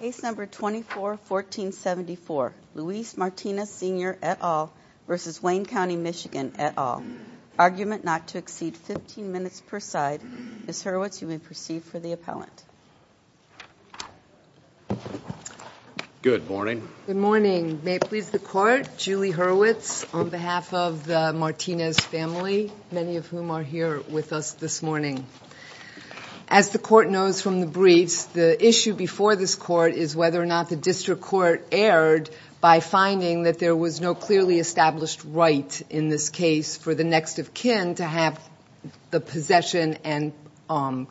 Case No. 24-1474, Luis Martinez Sr. et al. v. Wayne County, MI et al. Argument not to exceed 15 minutes per side. Ms. Hurwitz, you may proceed for the appellant. Good morning. Good morning. May it please the Court, Julie Hurwitz on behalf of the Martinez family, many of whom are here with us this morning. As the Court knows from the briefs, the issue before this Court is whether or not the district court erred by finding that there was no clearly established right in this case for the next of kin to have the possession and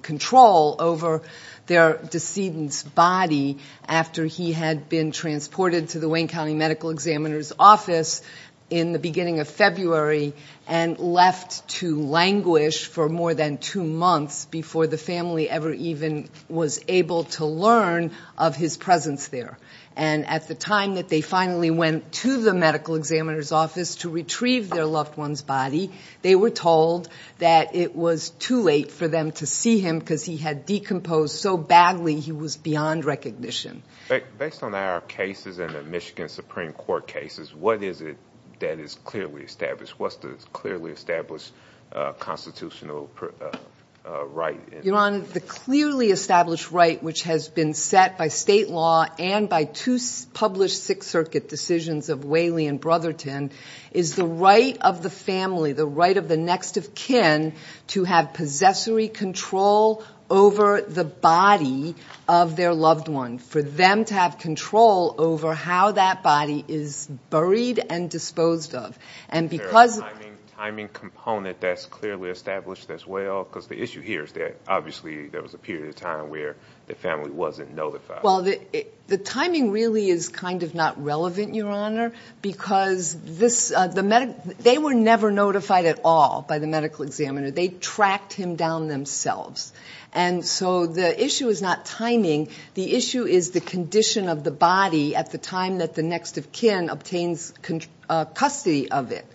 control over their decedent's body after he had been transported to the Wayne County Medical Examiner's office in the beginning of February and left to languish for more than two months before the family ever even was able to learn of his presence there. And at the time that they finally went to the medical examiner's office to retrieve their loved one's body, they were told that it was too late for them to see him because he had decomposed so badly he was beyond recognition. Based on our cases and the Michigan Supreme Court cases, what is it that is clearly established? What's the clearly established constitutional right? Your Honor, the clearly established right which has been set by state law and by two published Sixth Circuit decisions of Whaley and Brotherton is the right of the family, the right of the next of kin, to have possessory control over the body of their loved one, for them to have control over how that body is buried and disposed of. Is there a timing component that's clearly established as well? Because the issue here is that obviously there was a period of time where the family wasn't notified. Well, the timing really is kind of not relevant, Your Honor, because they were never notified at all by the medical examiner. They tracked him down themselves. And so the issue is not timing. The issue is the condition of the body at the time that the next of kin obtains custody of it.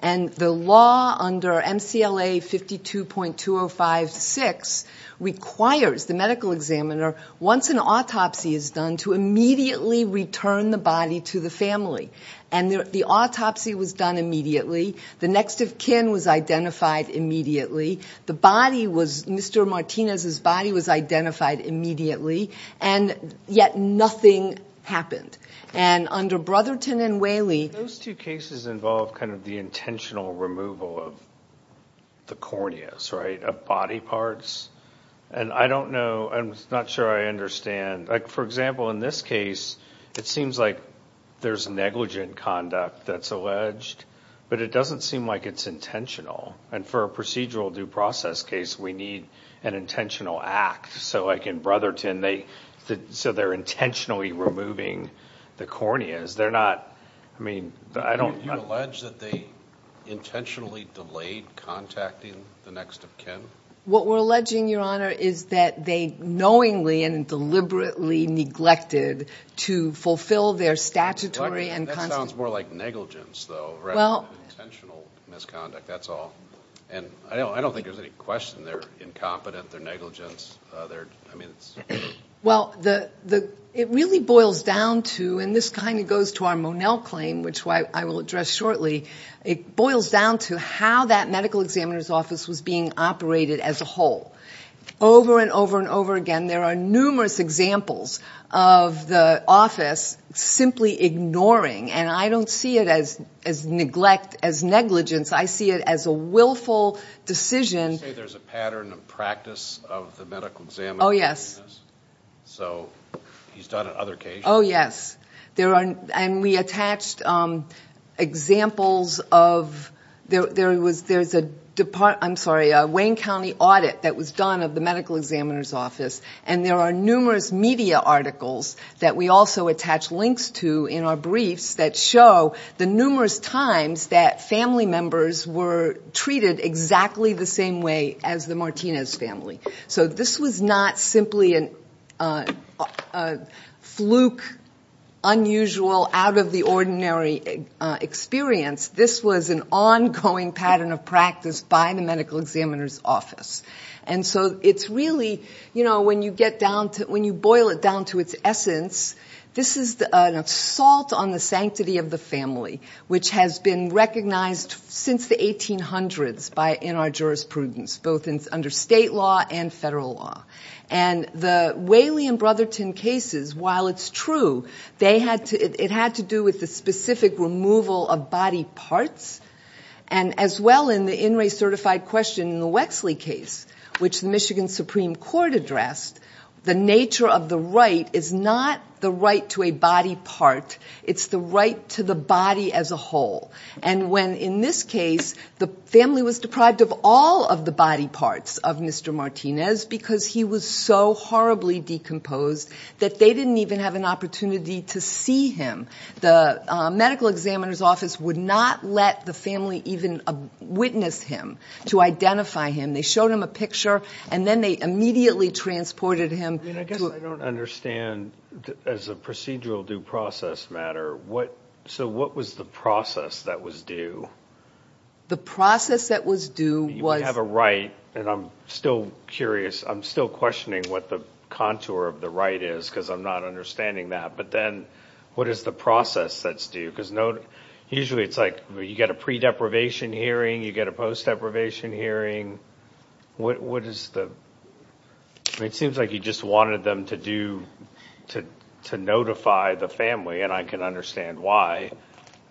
And the law under MCLA 52.205-6 requires the medical examiner, once an autopsy is done, to immediately return the body to the family. And the autopsy was done immediately. The next of kin was identified immediately. The body was Mr. Martinez's body was identified immediately, and yet nothing happened. And under Brotherton and Whaley... Those two cases involve kind of the intentional removal of the corneas, right, of body parts. And I don't know, I'm not sure I understand. Like, for example, in this case, it seems like there's negligent conduct that's alleged, but it doesn't seem like it's intentional. And for a procedural due process case, we need an intentional act. So like in Brotherton, so they're intentionally removing the corneas. They're not, I mean, I don't... You allege that they intentionally delayed contacting the next of kin? What we're alleging, Your Honor, is that they knowingly and deliberately neglected to fulfill their statutory and constitutional... That sounds more like negligence, though, rather than intentional misconduct, that's all. And I don't think there's any question they're incompetent, they're negligent. I mean, it's... Well, it really boils down to, and this kind of goes to our Monell claim, which I will address shortly, it boils down to how that medical examiner's office was being operated as a whole. Over and over and over again, there are numerous examples of the office simply ignoring, and I don't see it as neglect, as negligence. I see it as a willful decision. You say there's a pattern of practice of the medical examiner doing this? So he's done it other cases? Oh, yes. And we attached examples of... There's a Wayne County audit that was done of the medical examiner's office, and there are numerous media articles that we also attach links to in our briefs that show the numerous times that family members were treated exactly the same way as the Martinez family. So this was not simply a fluke, unusual, out-of-the-ordinary experience. This was an ongoing pattern of practice by the medical examiner's office. And so it's really, you know, when you boil it down to its essence, this is an assault on the sanctity of the family, which has been recognized since the 1800s in our jurisprudence, both under state law and federal law. And the Whaley and Brotherton cases, while it's true, it had to do with the specific removal of body parts, and as well in the in-race certified question in the Wexley case, which the Michigan Supreme Court addressed, the nature of the right is not the right to a body part, it's the right to the body as a whole. And when, in this case, the family was deprived of all of the body parts of Mr. Martinez because he was so horribly decomposed that they didn't even have an opportunity to see him, the medical examiner's office would not let the family even witness him, to identify him. They showed him a picture, and then they immediately transported him to a... I guess I don't understand, as a procedural due process matter, so what was the process that was due? The process that was due was... You have a right, and I'm still curious, I'm still questioning what the contour of the right is, because I'm not understanding that. But then what is the process that's due? Because usually it's like you get a pre-deprivation hearing, you get a post-deprivation hearing. What is the... It seems like you just wanted them to notify the family, and I can understand why,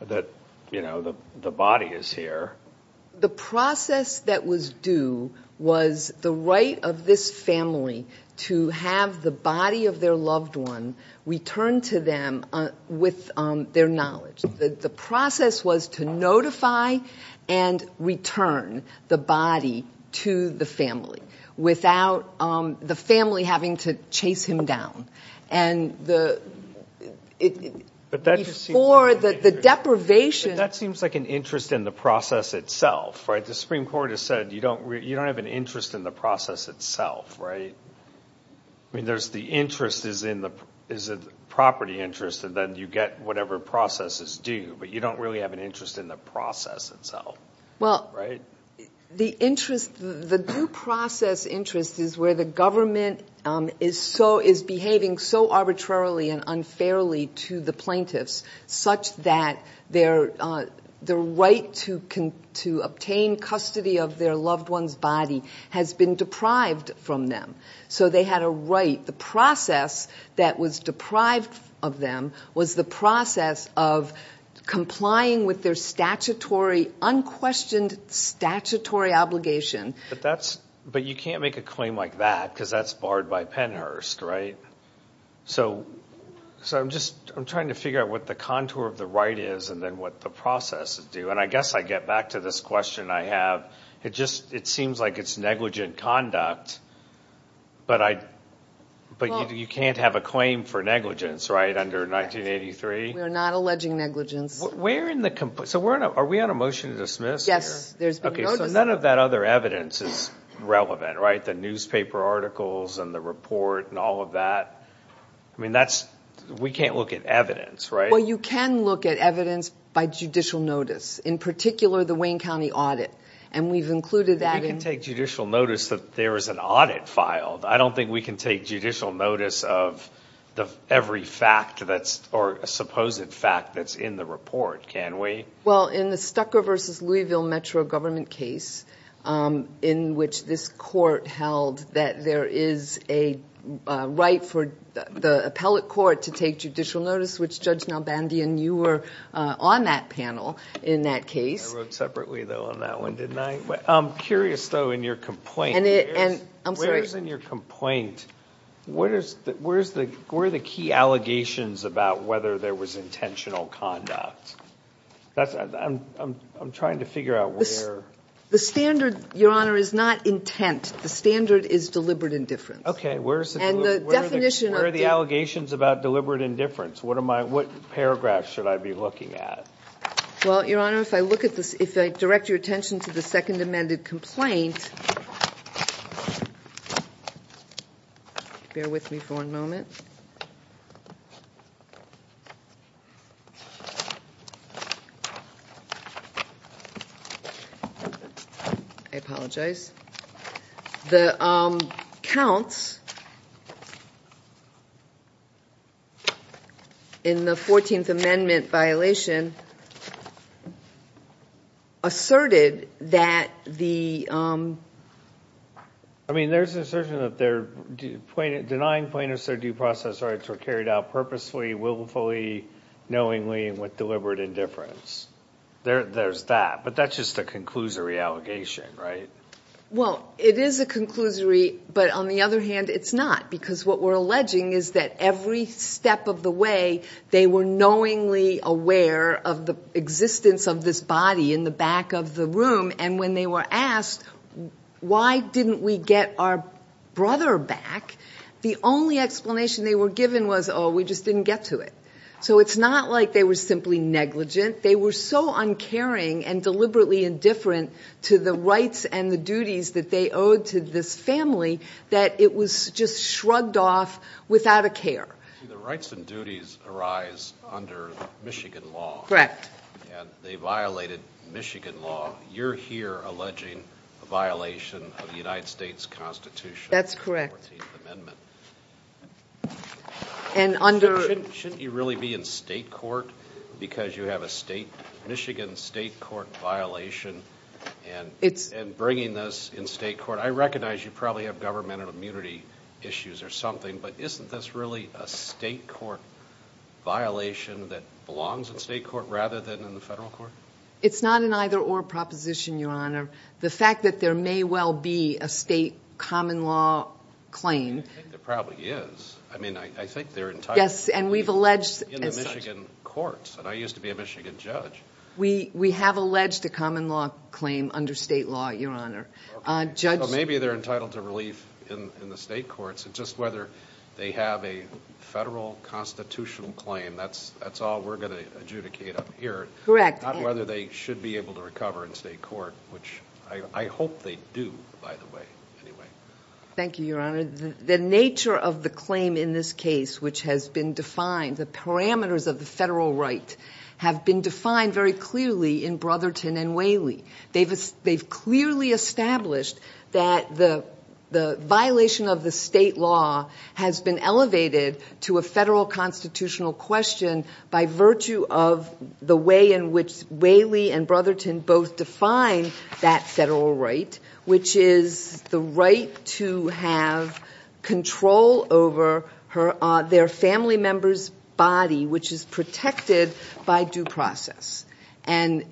that the body is here. The process that was due was the right of this family to have the body of their loved one returned to them with their knowledge. The process was to notify and return the body to the family without the family having to chase him down. Before the deprivation... But that seems like an interest in the process itself, right? The Supreme Court has said you don't have an interest in the process itself, right? I mean, the interest is a property interest, and then you get whatever process is due, but you don't really have an interest in the process itself, right? Well, the due process interest is where the government is behaving so arbitrarily and unfairly to the plaintiffs, such that their right to obtain custody of their loved one's body has been deprived from them. So they had a right. The process that was deprived of them was the process of complying with their unquestioned statutory obligation. But you can't make a claim like that, because that's barred by Pennhurst, right? So I'm trying to figure out what the contour of the right is and then what the process is due. And I guess I get back to this question I have. It seems like it's negligent conduct, but you can't have a claim for negligence, right, under 1983? We're not alleging negligence. So are we on a motion to dismiss here? Yes. Okay, so none of that other evidence is relevant, right? The newspaper articles and the report and all of that. I mean, we can't look at evidence, right? Well, you can look at evidence by judicial notice, in particular the Wayne County audit. And we've included that in... We can take judicial notice that there is an audit filed. I don't think we can take judicial notice of every fact that's or a supposed fact that's in the report, can we? Well, in the Stucco v. Louisville Metro government case in which this court held that there is a right for the appellate court to take judicial notice, which, Judge Nalbandian, you were on that panel in that case. I wrote separately, though, on that one, didn't I? I'm curious, though, in your complaint... I'm sorry. Where is in your complaint... Where are the key allegations about whether there was intentional conduct? I'm trying to figure out where... The standard, Your Honor, is not intent. The standard is deliberate indifference. Okay, where are the allegations about deliberate indifference? What paragraphs should I be looking at? Well, Your Honor, if I direct your attention to the second amended complaint... Bear with me for a moment. I apologize. The counts... ..in the 14th Amendment violation... ..asserted that the... I mean, there's an assertion that they're denying plaintiffs their due process rights were carried out purposefully, willfully, knowingly, and with deliberate indifference. There's that, but that's just a conclusory allegation, right? Well, it is a conclusory, but on the other hand, it's not, because what we're alleging is that every step of the way they were knowingly aware of the existence of this body in the back of the room, and when they were asked, why didn't we get our brother back, the only explanation they were given was, oh, we just didn't get to it. So it's not like they were simply negligent. They were so uncaring and deliberately indifferent to the rights and the duties that they owed to this family that it was just shrugged off without a care. See, the rights and duties arise under Michigan law. And they violated Michigan law. You're here alleging a violation of the United States Constitution... That's correct. ..in the 14th Amendment. Shouldn't you really be in state court because you have a Michigan state court violation and bringing this in state court? I recognize you probably have government immunity issues or something, but isn't this really a state court violation that belongs in state court rather than in the federal court? It's not an either-or proposition, Your Honor. The fact that there may well be a state common law claim... I think there probably is. I mean, I think they're entitled to relief... Yes, and we've alleged... ..in the Michigan courts, and I used to be a Michigan judge. We have alleged a common law claim under state law, Your Honor. Maybe they're entitled to relief in the state courts. It's just whether they have a federal constitutional claim. That's all we're going to adjudicate up here. Correct. Not whether they should be able to recover in state court, which I hope they do, by the way, anyway. Thank you, Your Honor. The nature of the claim in this case, which has been defined, the parameters of the federal right, have been defined very clearly in Brotherton and Whaley. They've clearly established that the violation of the state law has been elevated to a federal constitutional question by virtue of the way in which Whaley and Brotherton both define that federal right, which is the right to have control over their family member's body, which is protected by due process. And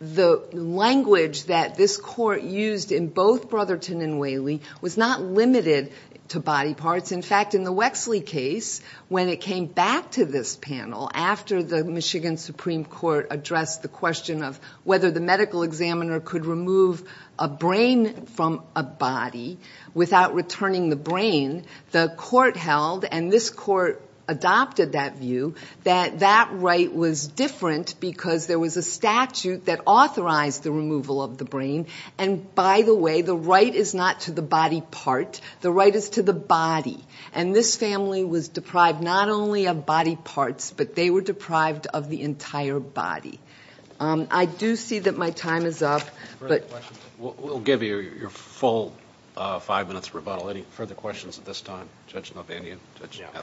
the language that this court used in both Brotherton and Whaley was not limited to body parts. In fact, in the Wexley case, when it came back to this panel, after the Michigan Supreme Court addressed the question of whether the medical examiner could remove a brain from a body without returning the brain, the court held, and this court adopted that view, that that right was different because there was a statute that authorized the removal of the brain. And by the way, the right is not to the body part. The right is to the body. And this family was deprived not only of body parts, but they were deprived of the entire body. I do see that my time is up. We'll give you your full five-minute rebuttal. Any further questions at this time? Judge Novandian?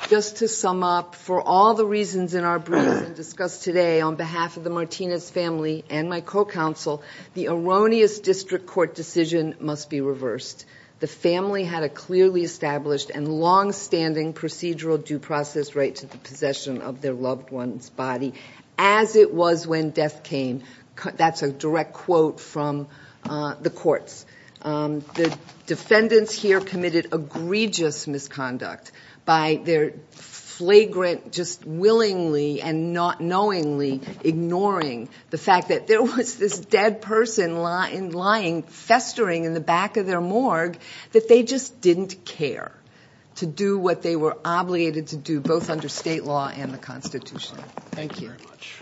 Just to sum up, for all the reasons in our briefs and discussed today, on behalf of the Martinez family and my co-counsel, the erroneous district court decision must be reversed. The family had a clearly established and long-standing procedural due process right to the possession of their loved one's body, as it was when death came. That's a direct quote from the courts. The defendants here committed egregious misconduct by their flagrant just willingly and not knowingly ignoring the fact that there was this dead person lying, festering in the back of their morgue, that they just didn't care to do what they were obligated to do, both under state law and the Constitution. Thank you very much.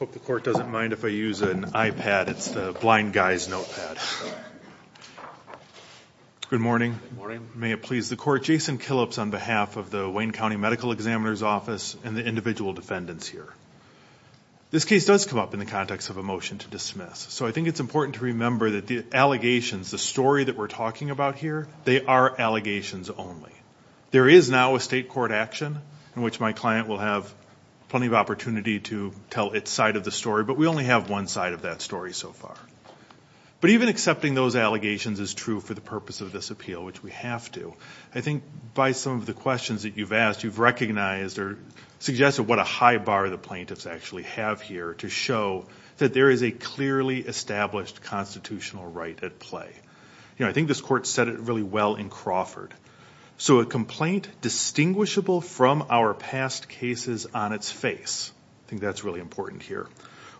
I hope the court doesn't mind if I use an iPad. It's the blind guy's notepad. Good morning. Good morning. May it please the court, Jason Killips on behalf of the Wayne County Medical Examiner's Office and the individual defendants here. This case does come up in the context of a motion to dismiss, so I think it's important to remember that the allegations, the story that we're talking about here, they are allegations only. There is now a state court action in which my client will have plenty of opportunity to tell its side of the story, but we only have one side of that story so far. But even accepting those allegations is true for the purpose of this appeal, which we have to. I think by some of the questions that you've asked, you've recognized or suggested what a high bar the plaintiffs actually have here to show that there is a clearly established constitutional right at play. I think this court said it really well in Crawford. So a complaint distinguishable from our past cases on its face, I think that's really important here,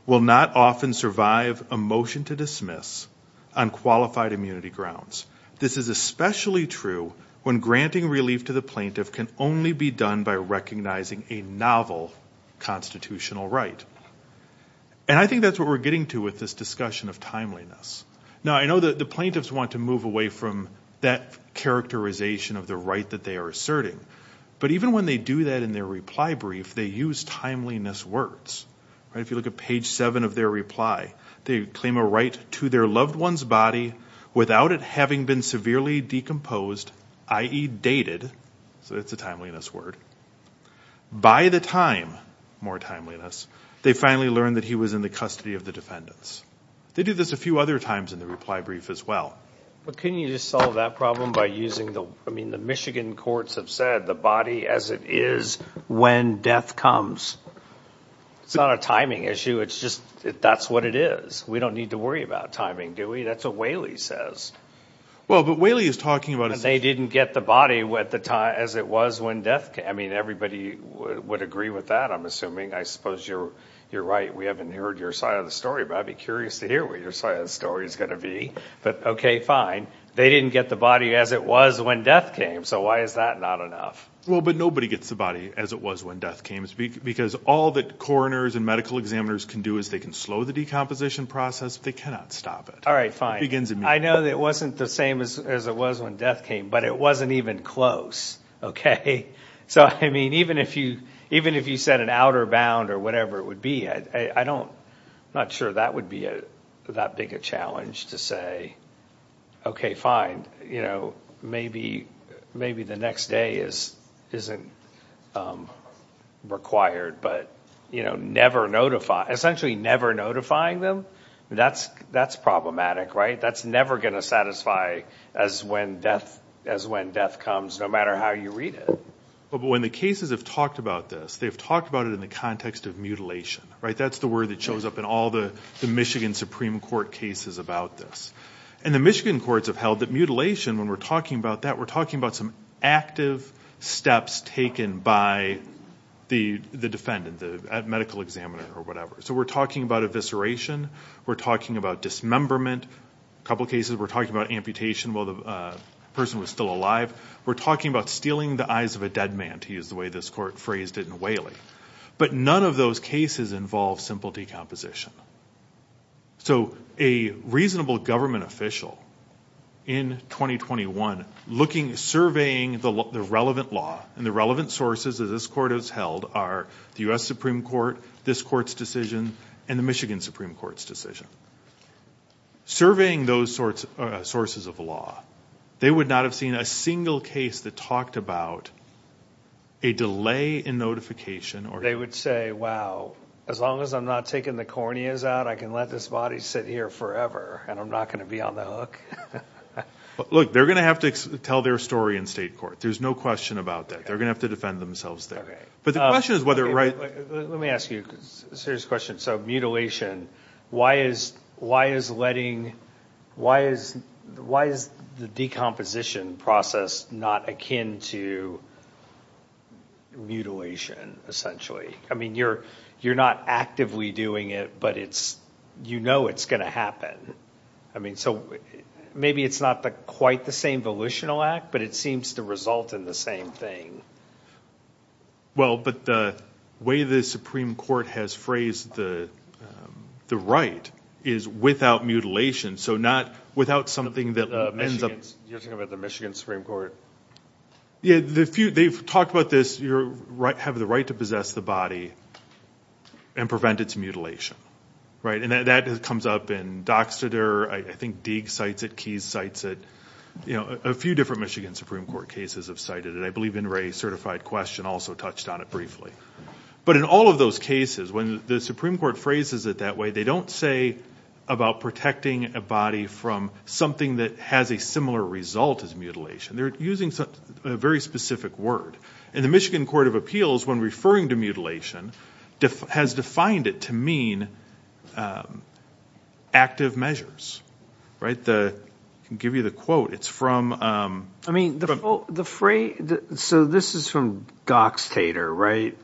will not often survive a motion to dismiss on qualified immunity grounds. This is especially true when granting relief to the plaintiff can only be And I think that's what we're getting to with this discussion of timeliness. Now, I know that the plaintiffs want to move away from that characterization of the right that they are asserting, but even when they do that in their reply brief, they use timeliness words. If you look at page 7 of their reply, they claim a right to their loved one's body without it having been severely decomposed, i.e. dated, so that's a timeliness word, by the time, more timeliness, they finally learned that he was in the custody of the defendants. They do this a few other times in the reply brief as well. But couldn't you just solve that problem by using the, I mean, the Michigan courts have said the body as it is when death comes. It's not a timing issue. It's just that's what it is. We don't need to worry about timing, do we? That's what Whaley says. Well, but Whaley is talking about a They didn't get the body as it was when death came. I mean, everybody would agree with that, I'm assuming. I suppose you're right. We haven't heard your side of the story, but I'd be curious to hear what your side of the story is going to be. But, okay, fine. They didn't get the body as it was when death came, so why is that not enough? Well, but nobody gets the body as it was when death came because all that coroners and medical examiners can do is they can slow the decomposition process, but they cannot stop it. All right, fine. I know that it wasn't the same as it was when death came, but it wasn't even close, okay? So, I mean, even if you said an outer bound or whatever it would be, I'm not sure that would be that big a challenge to say, okay, fine, maybe the next day isn't required, but essentially never notifying them, that's problematic, right? That's never going to satisfy as when death comes, no matter how you read it. But when the cases have talked about this, they've talked about it in the context of mutilation, right? That's the word that shows up in all the Michigan Supreme Court cases about this. And the Michigan courts have held that mutilation, when we're talking about that, we're talking about some active steps taken by the defendant, the medical examiner or whatever. So we're talking about evisceration. We're talking about dismemberment. A couple of cases we're talking about amputation while the person was still alive. We're talking about stealing the eyes of a dead man, to use the way this court phrased it in Whaley. But none of those cases involve simple decomposition. So a reasonable government official in 2021 looking, surveying the relevant law and the relevant sources that this court has held are the U.S. Supreme Court, this court's decision, and the Michigan Supreme Court's decision. Surveying those sources of law, they would not have seen a single case that talked about a delay in notification. They would say, wow, as long as I'm not taking the corneas out, I can let this body sit here forever and I'm not going to be on the hook. Look, they're going to have to tell their story in state court. There's no question about that. They're going to have to defend themselves there. But the question is whether right – Let me ask you a serious question. So mutilation, why is letting – why is the decomposition process not akin to mutilation essentially? I mean you're not actively doing it, but you know it's going to happen. So maybe it's not quite the same volitional act, but it seems to result in the same thing. Well, but the way the Supreme Court has phrased the right is without mutilation, so not without something that ends up – You're talking about the Michigan Supreme Court? Yeah, they've talked about this. You have the right to possess the body and prevent its mutilation, right? And that comes up in Doxter. I think Deag cites it. Keyes cites it. A few different Michigan Supreme Court cases have cited it. I believe In re Certified Question also touched on it briefly. But in all of those cases, when the Supreme Court phrases it that way, they don't say about protecting a body from something that has a similar result as mutilation. They're using a very specific word. And the Michigan Court of Appeals, when referring to mutilation, has defined it to mean active measures. I can give you the quote. It's from – So this is from Doxter, right?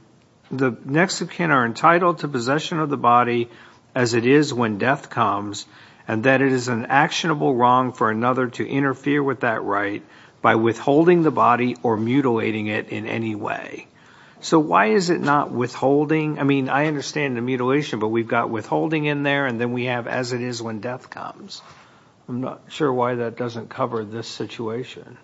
The Mexican are entitled to possession of the body as it is when death comes and that it is an actionable wrong for another to interfere with that right by withholding the body or mutilating it in any way. So why is it not withholding? I mean, I understand the mutilation, but we've got withholding in there and then we have as it is when death comes. I'm not sure why that doesn't cover this situation.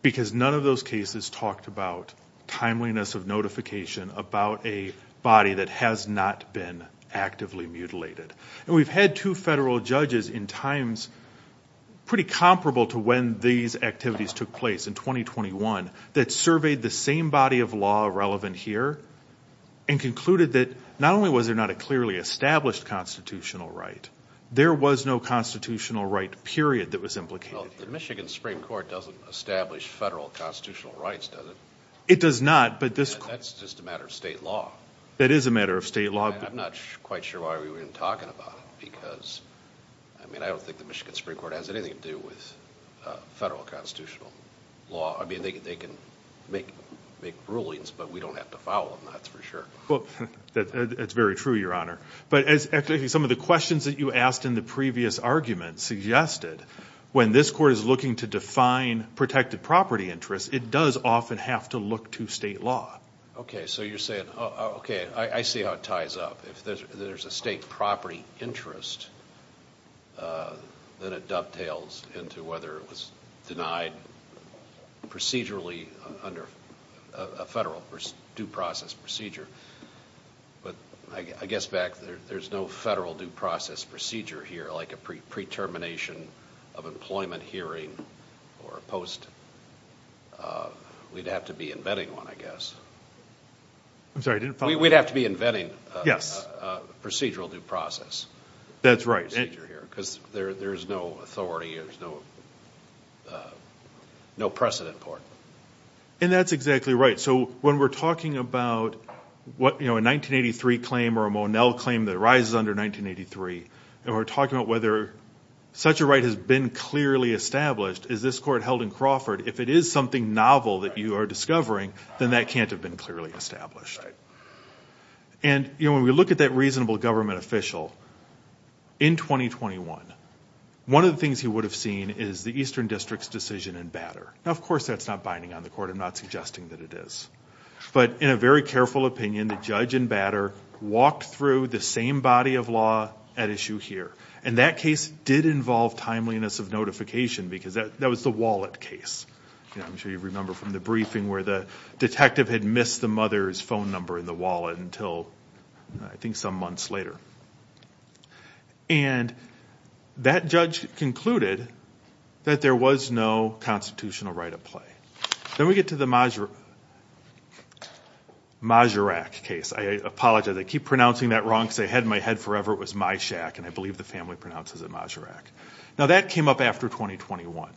Because none of those cases talked about timeliness of notification about a body that has not been actively mutilated. And we've had two federal judges in times pretty comparable to when these activities took place in 2021 that surveyed the same body of law relevant here and concluded that not only was there not a clearly established constitutional right, there was no constitutional right period that was implicated. Well, the Michigan Supreme Court doesn't establish federal constitutional rights, does it? It does not, but this – That's just a matter of state law. That is a matter of state law. I'm not quite sure why we weren't talking about it because, I mean, I don't think the Michigan Supreme Court has anything to do with federal constitutional law. I mean, they can make rulings, but we don't have to file them, that's for sure. That's very true, Your Honor. But as some of the questions that you asked in the previous argument suggested, when this court is looking to define protected property interests, it does often have to look to state law. Okay, so you're saying – Okay, I see how it ties up. If there's a state property interest, then it dovetails into whether it was denied procedurally under a federal due process procedure. But I guess back there, there's no federal due process procedure here like a pre-termination of employment hearing or a post – we'd have to be inventing one, I guess. I'm sorry, I didn't follow. We'd have to be inventing a procedural due process. That's right. Because there's no authority, there's no precedent for it. And that's exactly right. So when we're talking about a 1983 claim or a Monell claim that arises under 1983, and we're talking about whether such a right has been clearly established, is this court held in Crawford, if it is something novel that you are discovering, then that can't have been clearly established. And when we look at that reasonable government official in 2021, one of the things he would have seen is the Eastern District's decision in Batter. Now, of course, that's not binding on the court. I'm not suggesting that it is. But in a very careful opinion, the judge in Batter walked through the same body of law at issue here. And that case did involve timeliness of notification because that was the Wallet case. I'm sure you remember from the briefing where the detective had missed the mother's phone number in the wallet until I think some months later. And that judge concluded that there was no constitutional right at play. Then we get to the Majerak case. I apologize. I keep pronouncing that wrong because I had it in my head forever. It was Majerak, and I believe the family pronounces it Majerak. Now, that came up after 2021.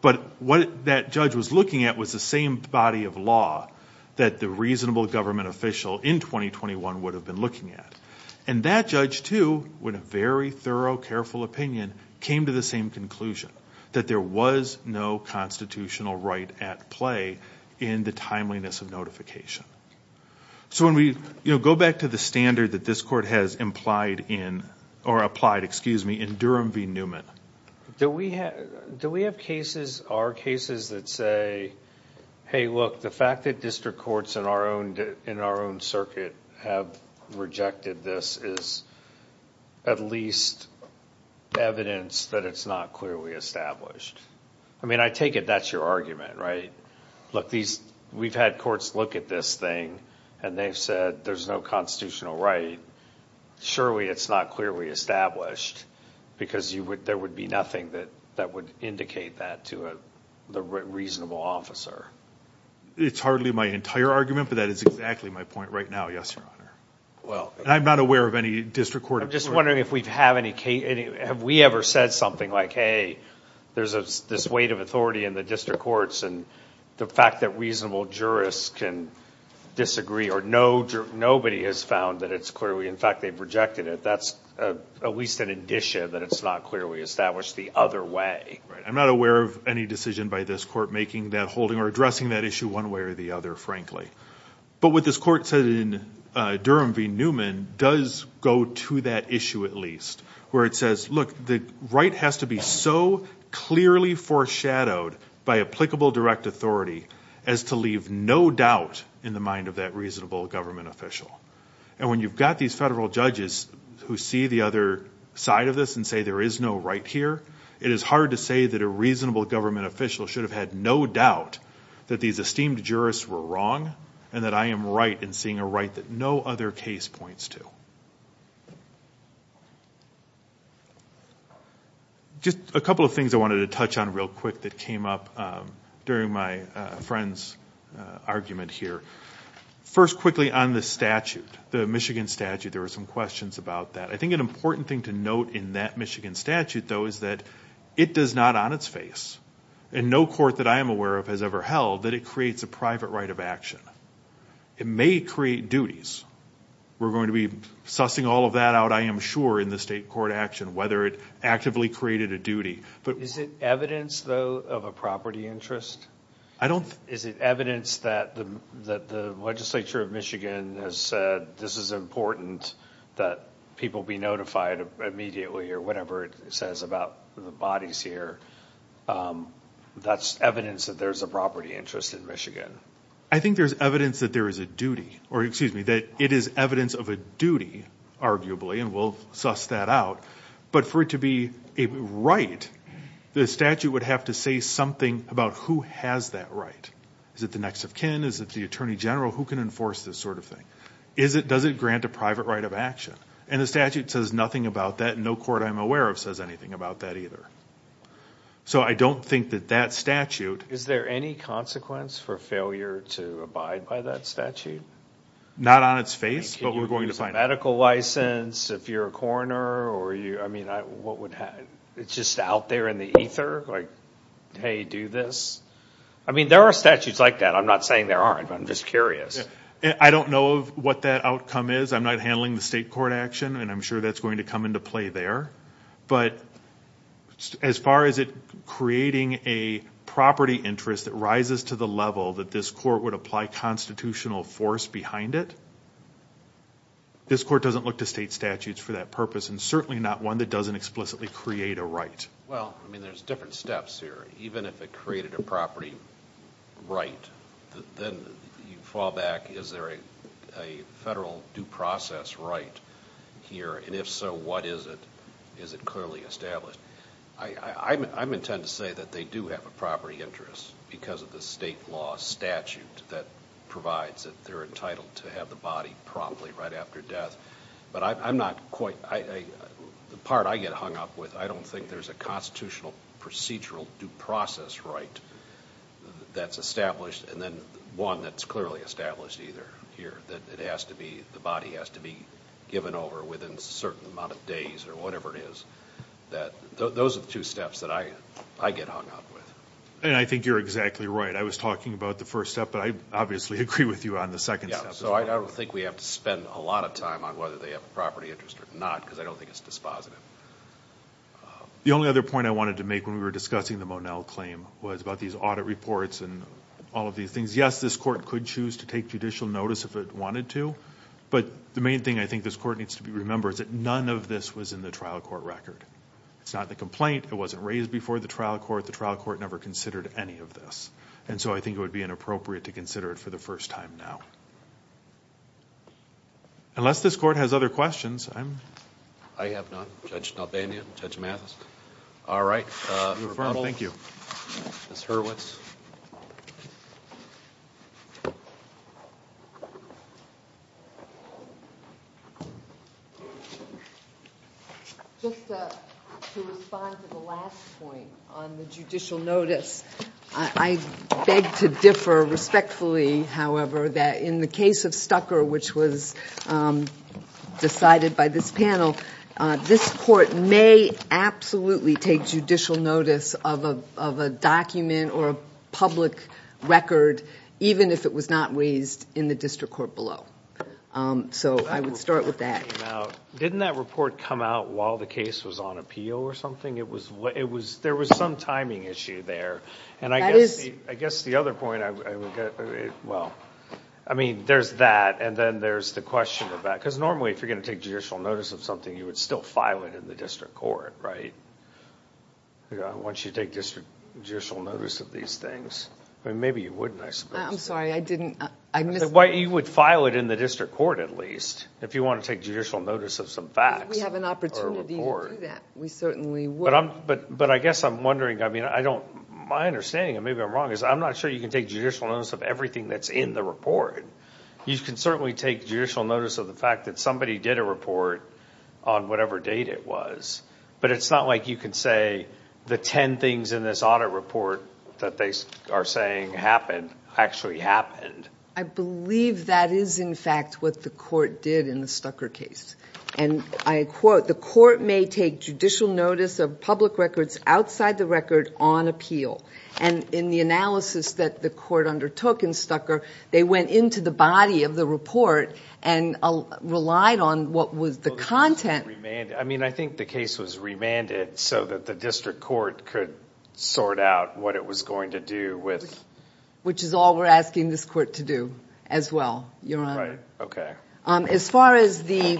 But what that judge was looking at was the same body of law that the reasonable government official in 2021 would have been looking at. And that judge, too, with a very thorough, careful opinion, came to the same conclusion, that there was no constitutional right at play in the timeliness of notification. So when we go back to the standard that this court has implied in Durham v. Newman, do we have cases, are cases that say, hey, look, the fact that district courts in our own circuit have rejected this is at least evidence that it's not clearly established. I mean, I take it that's your argument, right? Look, we've had courts look at this thing, and they've said there's no constitutional right. And surely it's not clearly established because there would be nothing that would indicate that to the reasonable officer. It's hardly my entire argument, but that is exactly my point right now, yes, Your Honor. And I'm not aware of any district court. I'm just wondering if we have any cases. Have we ever said something like, hey, there's this weight of authority in the district courts, and the fact that reasonable jurists can disagree, or nobody has found that it's clearly, in fact, they've rejected it. That's at least an addition that it's not clearly established the other way. I'm not aware of any decision by this court making that, holding or addressing that issue one way or the other, frankly. But what this court said in Durham v. Newman does go to that issue, at least, where it says, look, the right has to be so clearly foreshadowed by applicable direct authority as to leave no doubt in the mind of that reasonable government official. And when you've got these federal judges who see the other side of this and say there is no right here, it is hard to say that a reasonable government official should have had no doubt that these esteemed jurists were wrong and that I am right in seeing a right that no other case points to. Just a couple of things I wanted to touch on real quick that came up during my friend's argument here. First, quickly, on the statute, the Michigan statute, there were some questions about that. I think an important thing to note in that Michigan statute, though, is that it does not on its face, and no court that I am aware of has ever held, that it creates a private right of action. It may create duties. We're going to be sussing all of that out, I am sure, in the state court action, whether it actively created a duty. Is it evidence, though, of a property interest? Is it evidence that the legislature of Michigan has said this is important that people be notified immediately or whatever it says about the bodies here, that's evidence that there's a property interest in Michigan? I think there's evidence that there is a duty, or excuse me, that it is evidence of a duty, arguably, and we'll suss that out. But for it to be a right, the statute would have to say something about who has that right. Is it the next of kin? Is it the attorney general? Who can enforce this sort of thing? Does it grant a private right of action? And the statute says nothing about that, and no court I'm aware of says anything about that either. So I don't think that that statute... Is there any consequence for failure to abide by that statute? Not on its face, but we're going to find out. Medical license, if you're a coroner or you're... I mean, what would happen? It's just out there in the ether, like, hey, do this? I mean, there are statutes like that. I'm not saying there aren't, but I'm just curious. I don't know what that outcome is. I'm not handling the state court action, and I'm sure that's going to come into play there. But as far as it creating a property interest that rises to the level that this court would apply constitutional force behind it, this court doesn't look to state statutes for that purpose, and certainly not one that doesn't explicitly create a right. Well, I mean, there's different steps here. Even if it created a property right, then you fall back. Is there a federal due process right here? And if so, what is it? Is it clearly established? I'm intent to say that they do have a property interest because of the state law statute that provides that they're entitled to have the body promptly right after death. But I'm not quite the part I get hung up with. I don't think there's a constitutional procedural due process right that's established, and then one that's clearly established either here, that the body has to be given over within a certain amount of days or whatever it is. Those are the two steps that I get hung up with. And I think you're exactly right. I was talking about the first step, but I obviously agree with you on the second step. Yeah, so I don't think we have to spend a lot of time on whether they have a property interest or not because I don't think it's dispositive. The only other point I wanted to make when we were discussing the Monell claim was about these audit reports and all of these things. Yes, this court could choose to take judicial notice if it wanted to, but the main thing I think this court needs to remember is that none of this was in the trial court record. It's not the complaint. It wasn't raised before the trial court. The trial court never considered any of this. And so I think it would be inappropriate to consider it for the first time now. Unless this court has other questions, I'm... I have none. Judge Nalbanian, Judge Mathis. All right. Thank you. Ms. Hurwitz. Just to respond to the last point on the judicial notice, I beg to differ respectfully, however, that in the case of Stucker, which was decided by this panel, this court may absolutely take judicial notice of a document or a public record even if it was not raised in the district court below. So I would start with that. Didn't that report come out while the case was on appeal or something? There was some timing issue there. And I guess the other point I would... Well, I mean, there's that, and then there's the question of that. Because normally if you're going to take judicial notice of something, you would still file it in the district court, right? Once you take judicial notice of these things. I mean, maybe you wouldn't, I suppose. I'm sorry. I didn't... You would file it in the district court at least if you want to take judicial notice of some facts or a report. We have an opportunity to do that. We certainly would. But I guess I'm wondering, I mean, I don't... My understanding, and maybe I'm wrong, is I'm not sure you can take judicial notice of everything that's in the report. You can certainly take judicial notice of the fact that somebody did a report on whatever date it was. But it's not like you can say the 10 things in this audit report that they are saying happened actually happened. I believe that is, in fact, what the court did in the Stucker case. And I quote, the court may take judicial notice of public records outside the record on appeal. And in the analysis that the court undertook in Stucker, they went into the body of the report and relied on what was the content. I mean, I think the case was remanded so that the district court could sort out what it was going to do with... Which is all we're asking this court to do as well, Your Honor. Right. Okay. As far as the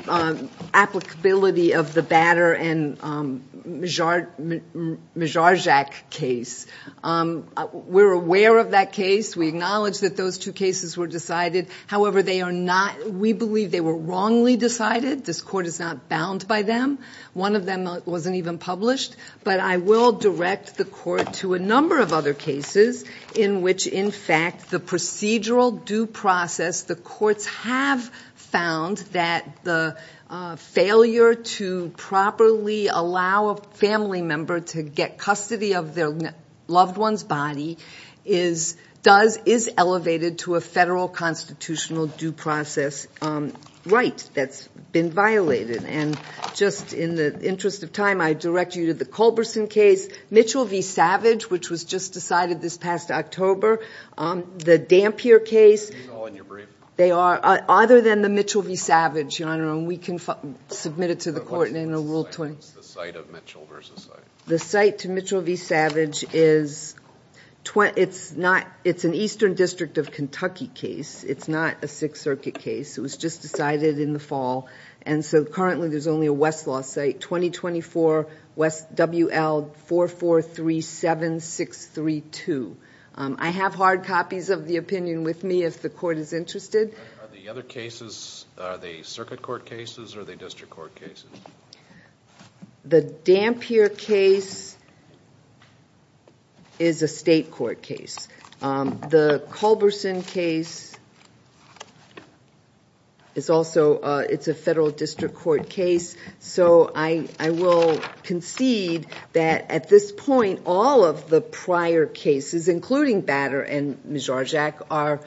applicability of the Batter and Mijarczak case, we're aware of that case. We acknowledge that those two cases were decided. However, they are not... We believe they were wrongly decided. This court is not bound by them. One of them wasn't even published. But I will direct the court to a number of other cases in which, in fact, the procedural due process, the courts have found that the failure to properly allow a family member to get custody of their loved one's body is elevated to a federal constitutional due process right that's been violated. And just in the interest of time, I direct you to the Culberson case, Mitchell v. Savage, which was just decided this past October, the Dampier case... These are all in your brief. They are, other than the Mitchell v. Savage, Your Honor, and we can submit it to the court in Rule 20. What's the site of Mitchell v. Savage? The site to Mitchell v. Savage is... It's an Eastern District of Kentucky case. It's not a Sixth Circuit case. It was just decided in the fall, and so currently there's only a Westlaw site, 2024 W.L. 4437632. I have hard copies of the opinion with me if the court is interested. Are the other cases, are they Circuit Court cases or are they District Court cases? The Dampier case is a State Court case. The Culberson case is also a Federal District Court case. So I will concede that, at this point, all of the prior cases, including Batter and Mijorzak, are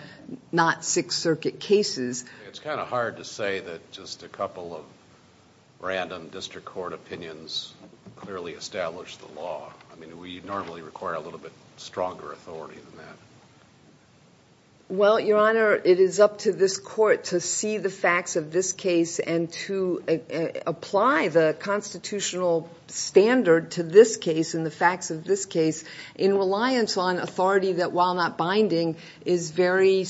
not Sixth Circuit cases. It's kind of hard to say that just a couple of random District Court opinions clearly establish the law. I mean, we normally require a little bit stronger authority than that. Well, Your Honor, it is up to this court to see the facts of this case and to apply the constitutional standard to this case and the facts of this case in reliance on authority that, while not binding, is very...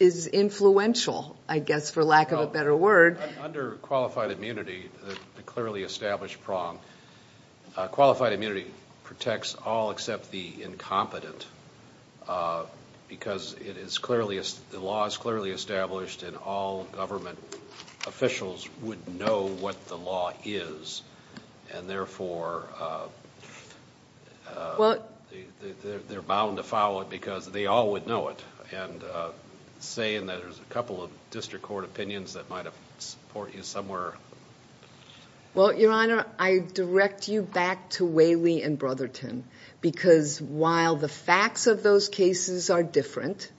is influential, I guess, for lack of a better word. Under qualified immunity, the clearly established prong, qualified immunity protects all except the incompetent because the law is clearly established and all government officials would know what the law is and, therefore, they're bound to follow it because they all would know it. And saying that there's a couple of District Court opinions that might support you somewhere. Well, Your Honor, I direct you back to Whaley and Brotherton because, while the facts of those cases are different,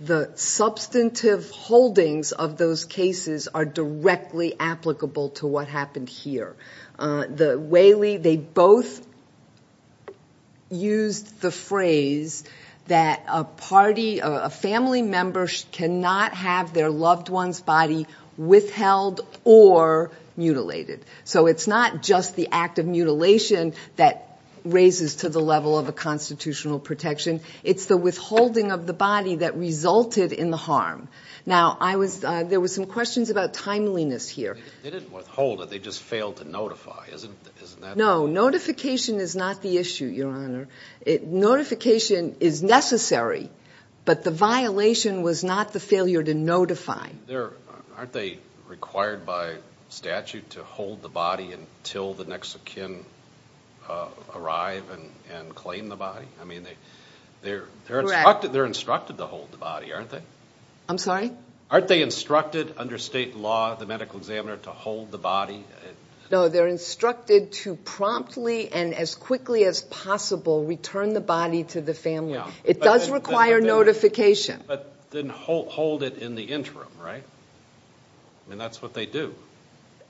the substantive holdings of those cases are directly applicable to what happened here. Whaley, they both used the phrase that a party, a family member cannot have their loved one's body withheld or mutilated. So it's not just the act of mutilation that raises to the level of a constitutional protection. It's the withholding of the body that resulted in the harm. Now, there were some questions about timeliness here. They didn't withhold it. They just failed to notify. Isn't that... No, notification is not the issue, Your Honor. Notification is necessary, but the violation was not the failure to notify. Aren't they required by statute to hold the body until the next of kin arrive and claim the body? I mean, they're instructed to hold the body, aren't they? I'm sorry? Aren't they instructed under state law, the medical examiner, to hold the body? No, they're instructed to promptly and as quickly as possible return the body to the family. It does require notification. But then hold it in the interim, right? I mean, that's what they do.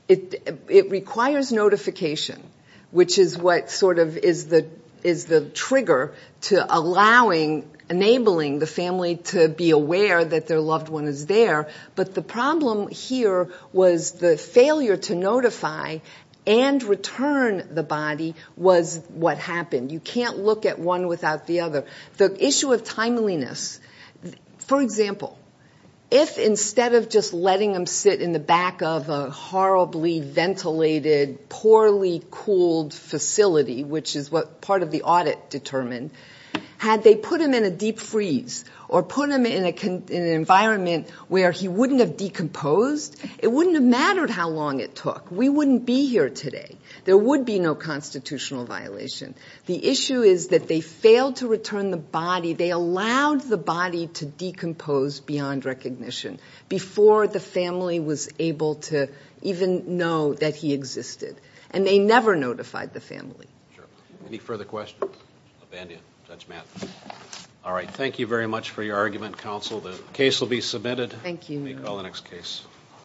It requires notification, which is what sort of is the trigger to allowing, enabling the family to be aware that their loved one is there. But the problem here was the failure to notify and return the body was what happened. You can't look at one without the other. The issue of timeliness, for example, if instead of just letting them sit in the back of a horribly ventilated, poorly cooled facility, which is what part of the audit determined, had they put them in a deep freeze or put them in an environment where he wouldn't have decomposed, it wouldn't have mattered how long it took. We wouldn't be here today. There would be no constitutional violation. The issue is that they failed to return the body. They allowed the body to decompose beyond recognition before the family was able to even know that he existed. And they never notified the family. Sure. Any further questions? I'll band in. Judge Matt. All right, thank you very much for your argument, counsel. The case will be submitted. Thank you. We'll call the next case.